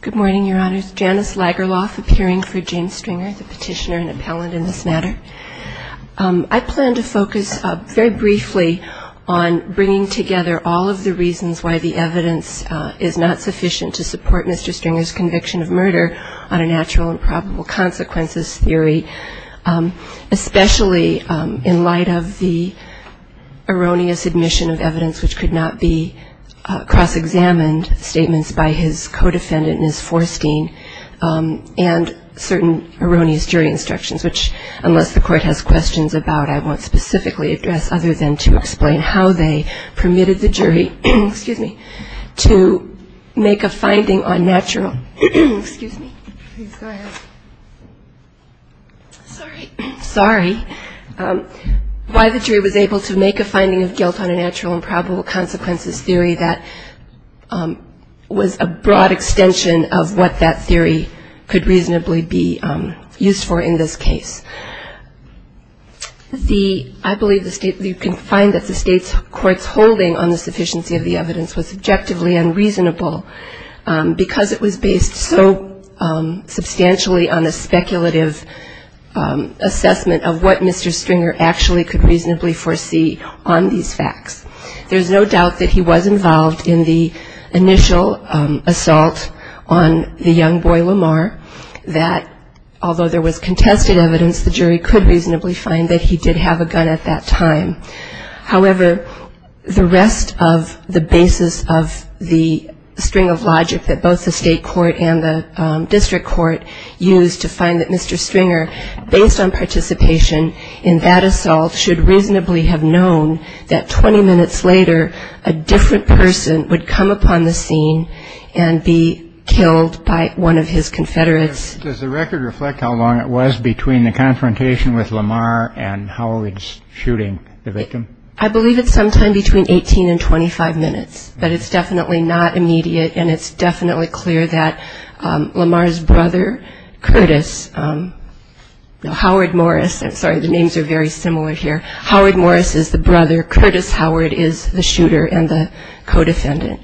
Good morning, Your Honors. Janice Lagerlof, appearing for James Stringer, the petitioner and appellant in this matter. I plan to focus very briefly on bringing together all of the reasons why the evidence is not sufficient to support Mr. Stringer's conviction of murder on a natural and probable consequences theory, especially in light of the erroneous admission of evidence which could not be cross-examined statements by his co-defendants. and certain erroneous jury instructions which, unless the court has questions about, I won't specifically address other than to explain how they permitted the jury to make a finding on natural and probable consequences theory that was a broad extension of what that theory could reasonably be used for in this case. I believe you can find that the state's court's holding on the sufficiency of the evidence was subjectively unreasonable because it was based so substantially on a speculative assessment of what Mr. Stringer actually could reasonably foresee on these facts. There's no doubt that he was involved in the initial assault on the young boy Lamar, that although there was contested evidence, the jury could reasonably find that he did have a gun at that time. However, the rest of the basis of the string of logic that both the state court and the district court used to find that Mr. Stringer, based on participation in that assault, should reasonably have known that 20 minutes later, a different person would come upon the scene and be killed by one of his confederates. Does the record reflect how long it was between the confrontation with Lamar and Howard's shooting the victim? I believe it's sometime between 18 and 25 minutes, but it's definitely not immediate and it's definitely clear that Lamar's brother, Curtis, no, Howard Morris, I'm sorry, the names are very similar here. Howard Morris is the brother, Curtis Howard is the shooter and the co-defendant.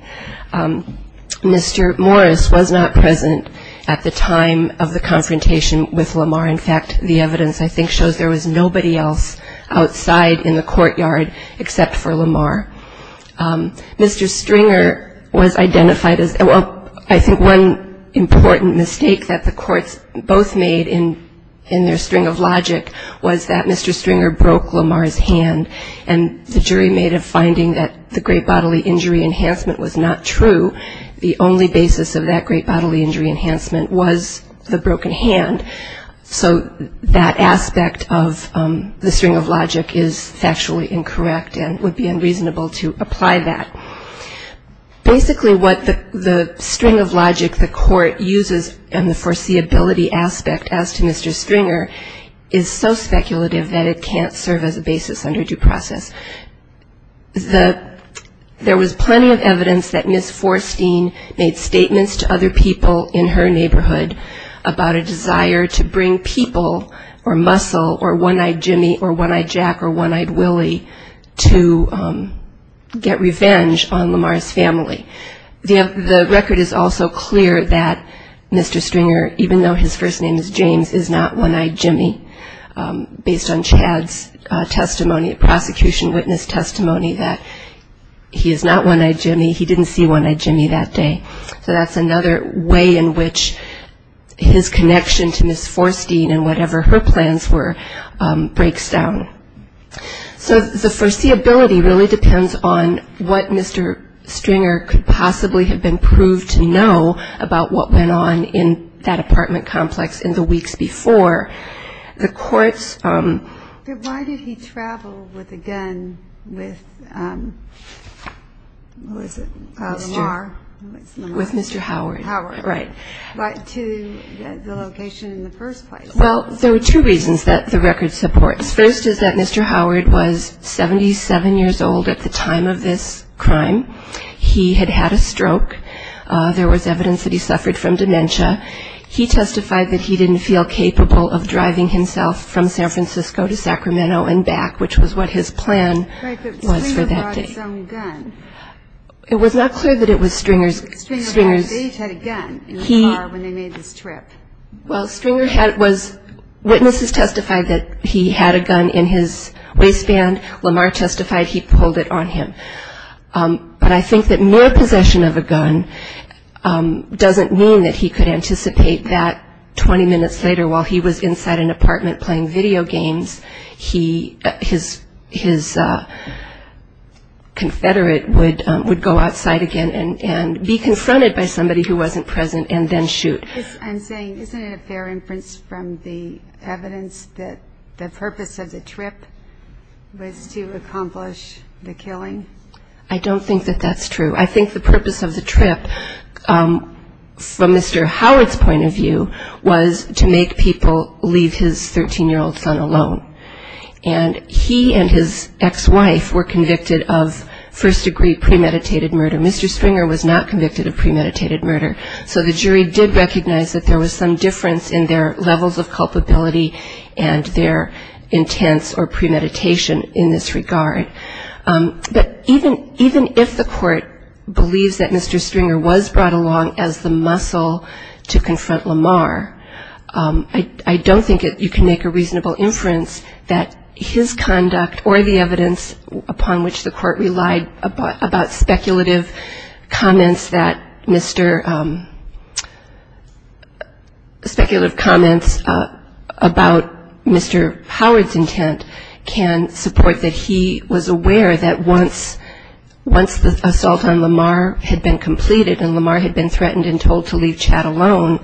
Mr. Morris was not present at the time of the confrontation with Lamar. In fact, the evidence I think shows there was nobody else outside in the courtyard except for Lamar. Mr. Stringer was identified as, well, I think one important mistake that the courts both made in their string of logic was that Mr. Stringer broke Lamar's hand. And the jury made a finding that the great bodily injury enhancement was not true. The only basis of that great bodily injury enhancement was the broken hand. So that aspect of the string of logic is factually incorrect and would be unreasonable to apply that. Basically what the string of logic the court uses and the foreseeability aspect as to Mr. Stringer is so speculative that it can't serve as a basis under due process. There was plenty of evidence that Ms. Forstein made statements to other people in her neighborhood about a desire to bring people or muscle or one-eyed Jimmy or one-eyed Jack or one-eyed Willie to get revenge on Lamar's family. The record is also clear that Mr. Stringer, even though his first name is James, is not one-eyed Jimmy. Based on Chad's testimony, prosecution witness testimony, that he is not one-eyed Jimmy. He didn't see one-eyed Jimmy that day. So that's another way in which his connection to Ms. Forstein and whatever her plans were breaks down. So the foreseeability really depends on what Mr. Stringer could possibly have been proved to know about what went on in that apartment complex in the weeks before. But why did he travel with a gun with Lamar to the location in the first place? Well, there were two reasons that the record supports. First is that Mr. Howard was 77 years old at the time of this crime. He had had a stroke. There was evidence that he suffered from dementia. He testified that he didn't feel capable of driving himself from San Francisco to Sacramento and back, which was what his plan was for that day. It was not clear that it was Stringer's. Witnesses testified that he had a gun in his waistband. Lamar testified he pulled it on him. And the fact that he had a gun doesn't mean that he could anticipate that 20 minutes later while he was inside an apartment playing video games, his confederate would go outside again and be confronted by somebody who wasn't present and then shoot. I'm saying, isn't it a fair inference from the evidence that the purpose of the trip was to accomplish the killing? I don't think that that's true. I think the purpose of the trip, from Mr. Howard's point of view, was to make people leave his 13-year-old son alone. And he and his ex-wife were convicted of first-degree premeditated murder. Mr. Stringer was not convicted of premeditated murder. So the jury did recognize that there was some difference in their levels of culpability and their intents or premeditation in this regard. But even if the court believes that Mr. Stringer was brought along as the muscle to confront Lamar, I don't think you can make a reasonable inference that his conduct or the evidence upon which the court relied about speculative comments that Mr. — speculative comments about Mr. Howard's intent can support that he was aware that once Mr. Stringer was — once the assault on Lamar had been completed and Lamar had been threatened and told to leave Chad alone,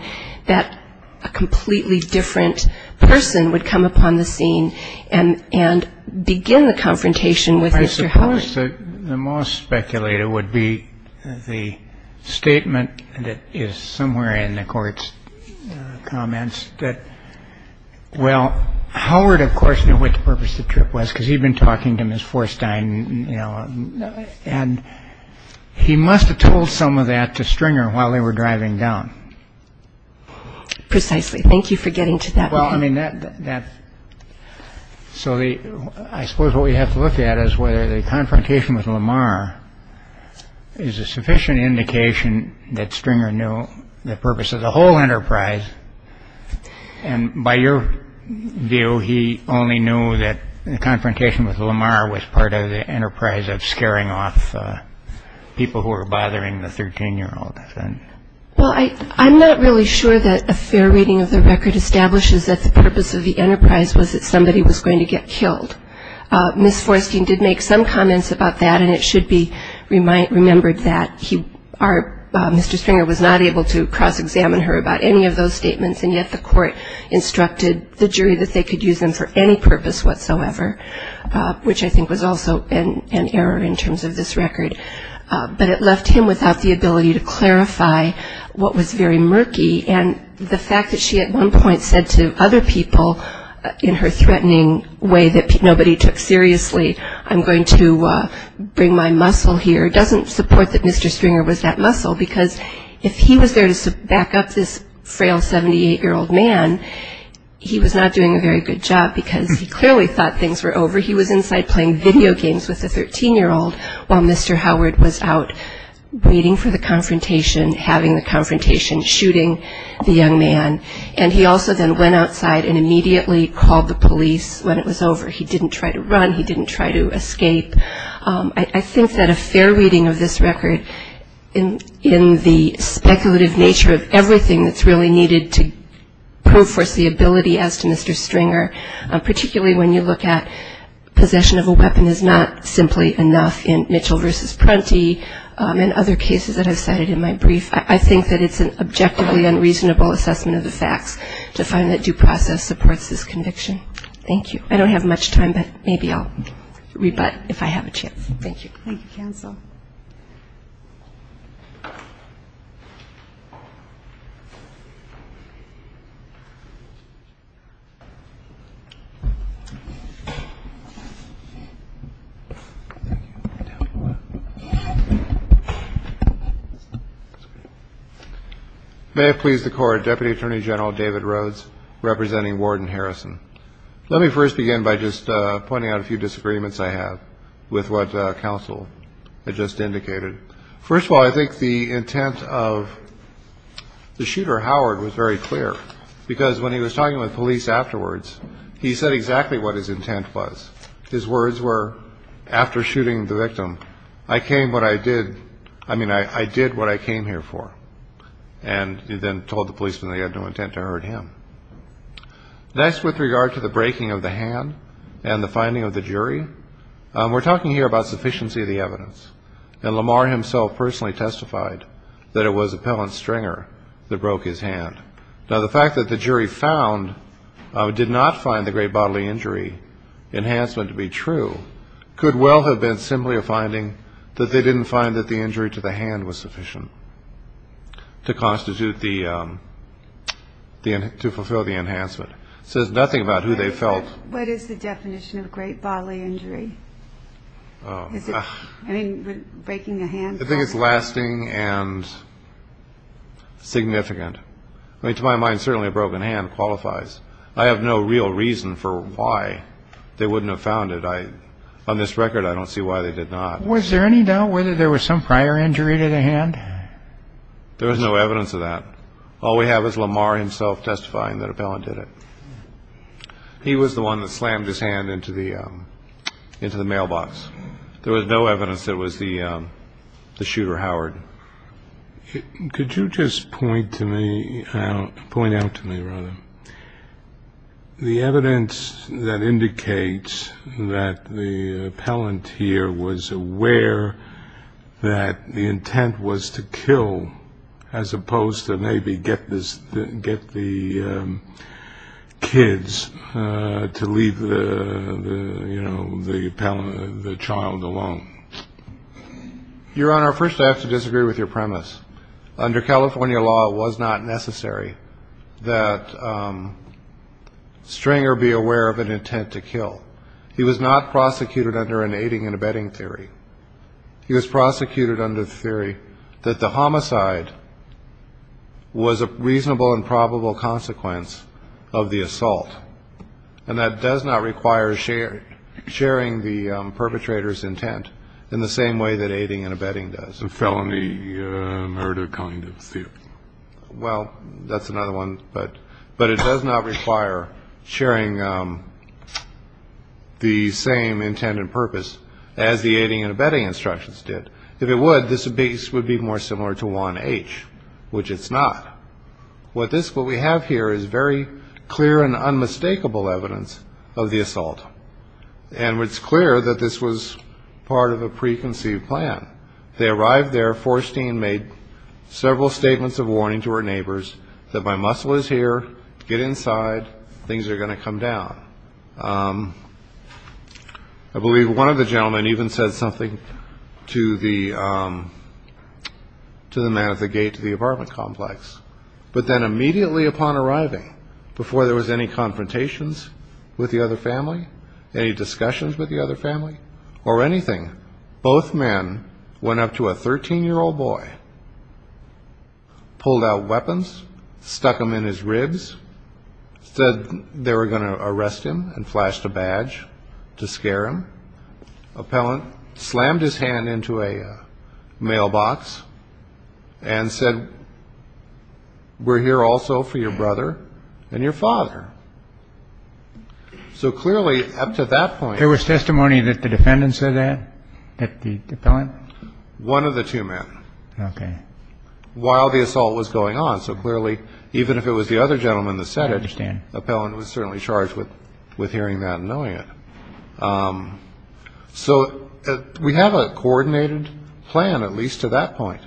that a completely different person would come upon the scene and begin the confrontation with Mr. Howard. I suppose the most speculative would be the statement that is somewhere in the court's comments that, well, Howard, of course, knew what the purpose of the trip was because he'd been talking to Ms. Forstein, you know. And he must have told some of that to Stringer while they were driving down. Precisely. Thank you for getting to that. Well, I mean, that — so I suppose what we have to look at is whether the confrontation with Lamar is a sufficient indication that Stringer knew the purpose of the whole enterprise. And by your view, he only knew that the confrontation with Lamar was part of the enterprise of scaring off people who were bothering the 13-year-old. Well, I'm not really sure that a fair reading of the record establishes that the purpose of the enterprise was that somebody was going to get killed. Ms. Forstein did make some comments about that, and it should be remembered that he — Mr. Stringer was not able to cross-examine her about any of those statements, and yet the court instructed the jury that they could use them for any purpose whatsoever, which I think was also an error in terms of this record. But it left him without the ability to clarify what was very murky. And the fact that she at one point said to other people in her threatening way that nobody took seriously, I'm going to bring my muscle here, doesn't support that Mr. Stringer was that muscle, because if he was there to back up this frail 78-year-old man, he was not doing a very good job, because he clearly thought things were over. He was inside playing video games with the 13-year-old while Mr. Howard was out waiting for the confrontation, having the confrontation, shooting the young man, and he also then went outside and immediately called the police when it was over. He didn't try to run. He didn't try to escape. I think that a fair reading of this record in the speculative nature of everything that's really needed to prove for us the ability as to Mr. Stringer, particularly when you look at possession of a weapon is not simply enough in Mitchell v. Prunty and other cases that I've cited in my brief, I think that it's an objectively unreasonable assessment of the facts to find that due process supports this conviction. Thank you. I don't have much time, but maybe I'll rebut if I have a chance. Thank you. May it please the Court, Deputy Attorney General David Rhodes representing Warden Harrison. Let me first begin by just pointing out a few disagreements I have with what counsel had just indicated. First of all, I think the intent of the shooter, Howard, was very clear, because when he was talking with police afterwards, he said exactly what his intent was. His words were after shooting the victim, I came what I did. I mean, I did what I came here for. And he then told the policeman he had no intent to hurt him. Next, with regard to the breaking of the hand and the finding of the jury, we're talking here about sufficiency of the evidence. And Lamar himself personally testified that it was Appellant Stringer that broke his hand. Now, the fact that the jury found, did not find the great bodily injury enhancement to be true could well have been simply a finding that they didn't find that the injury to the hand was sufficient to constitute the, to fulfill the enhancement. It says nothing about who they felt. What is the definition of great bodily injury? Is it breaking a hand? I think it's lasting and significant. I mean, to my mind, certainly a broken hand qualifies. I have no real reason for why they wouldn't have found it. On this record, I don't see why they did not. Was there any doubt whether there was some prior injury to the hand? There was no evidence of that. All we have is Lamar himself testifying that Appellant did it. He was the one that slammed his hand into the mailbox. There was no evidence it was the shooter, Howard. Could you just point to me, point out to me, rather, the evidence that indicates that the appellant here was aware that the intent was to kill, as opposed to maybe get the kids to leave the child alone. Your Honor, first I have to disagree with your premise. Stringer be aware of an intent to kill. He was not prosecuted under an aiding and abetting theory. He was prosecuted under the theory that the homicide was a reasonable and probable consequence of the assault. And that does not require sharing the perpetrator's intent in the same way that aiding and abetting does. It's a felony murder kind of theory. Well, that's another one. But it does not require sharing the same intent and purpose as the aiding and abetting instructions did. If it would, this would be more similar to 1H, which it's not. What we have here is very clear and unmistakable evidence of the assault. And it's clear that this was part of a preconceived plan. They arrived there, Forstein made several statements of warning to her neighbors that my muscle is here, get inside, things are going to come down. I believe one of the gentlemen even said something to the man at the gate to the apartment complex. But then immediately upon arriving, before there was any confrontations with the other family, any discussions with the other family or anything, both men went up to a 13-year-old boy, pulled out weapons, stuck them in his ribs, said they were going to arrest him and flashed a badge to scare him. Appellant slammed his hand into a mailbox and said, we're here also for your brother and your father. So clearly up to that point. There was testimony that the defendant said that, that the appellant? One of the two men. Okay. While the assault was going on. So clearly, even if it was the other gentleman that said it, the appellant was certainly charged with hearing that and knowing it. So we have a coordinated plan, at least to that point.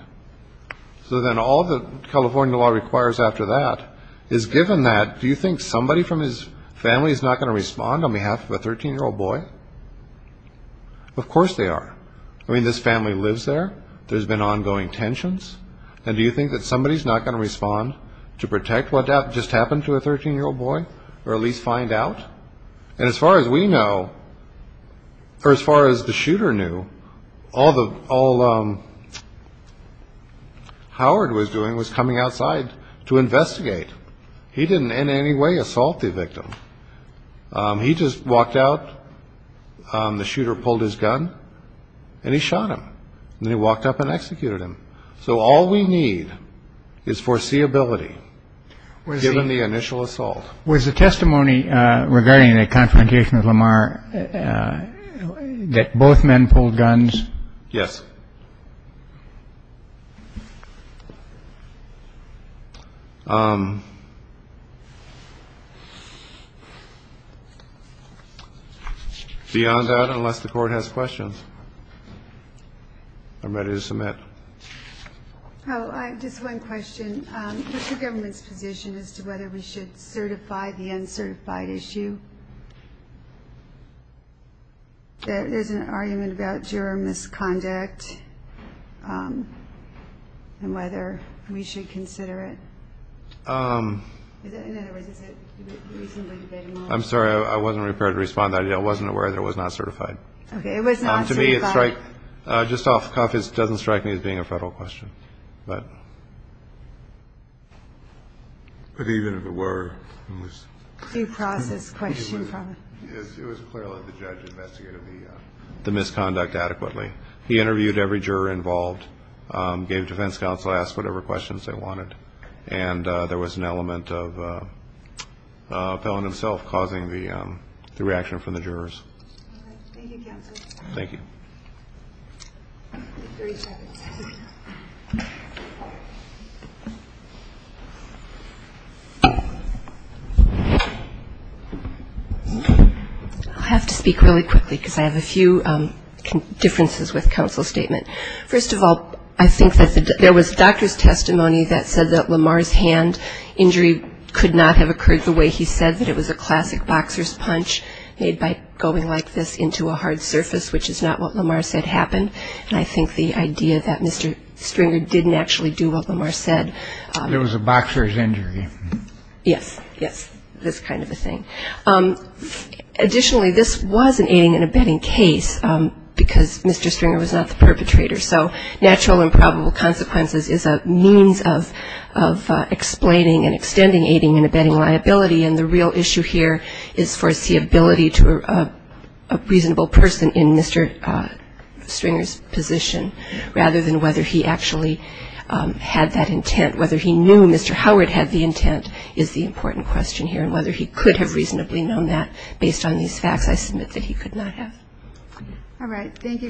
So then all the California law requires after that is given that. Do you think somebody from his family is not going to respond on behalf of a 13-year-old boy? Of course they are. I mean, this family lives there. There's been ongoing tensions. And do you think that somebody is not going to respond to protect what just happened to a 13-year-old boy or at least find out? And as far as we know, or as far as the shooter knew, all Howard was doing was coming outside to investigate. He didn't in any way assault the victim. He just walked out. The shooter pulled his gun and he shot him. And then he walked up and executed him. So all we need is foreseeability given the initial assault. Was the testimony regarding the confrontation with Lamar that both men pulled guns? Yes. Beyond that, unless the court has questions, I'm ready to submit. Just one question. What's the government's position as to whether we should certify the uncertified issue? There's an argument about juror misconduct and whether we should consider it. I'm sorry. I wasn't prepared to respond to that. I wasn't aware that it was not certified. Just off the cuff, it doesn't strike me as being a federal question. But even if it were, it was clearly the judge investigated the misconduct adequately. He interviewed every juror involved, gave defense counsel, asked whatever questions they wanted. And there was an element of Pelham himself causing the reaction from the jurors. Thank you, counsel. I have to speak really quickly because I have a few differences with counsel's statement. First of all, I think that there was doctor's testimony that said that Lamar's hand injury could not have occurred the way he said that it was a classic boxer's punch made by going like this into a hard surface, which is not what Lamar said happened. And I think the idea that Mr. Stringer didn't actually do what Lamar said. It was a boxer's injury. Yes, yes, this kind of a thing. Additionally, this was an aiding and abetting case because Mr. Stringer was not the perpetrator. So natural and probable consequences is a means of explaining and extending aiding and abetting liability. And the real issue here is foreseeability to a reasonable person in Mr. Stringer's position rather than whether he actually had that intent, whether he knew Mr. Howard had the intent is the important question here and whether he could have reasonably known that based on these facts I submit that he could not have. All right. Thank you. Thank you.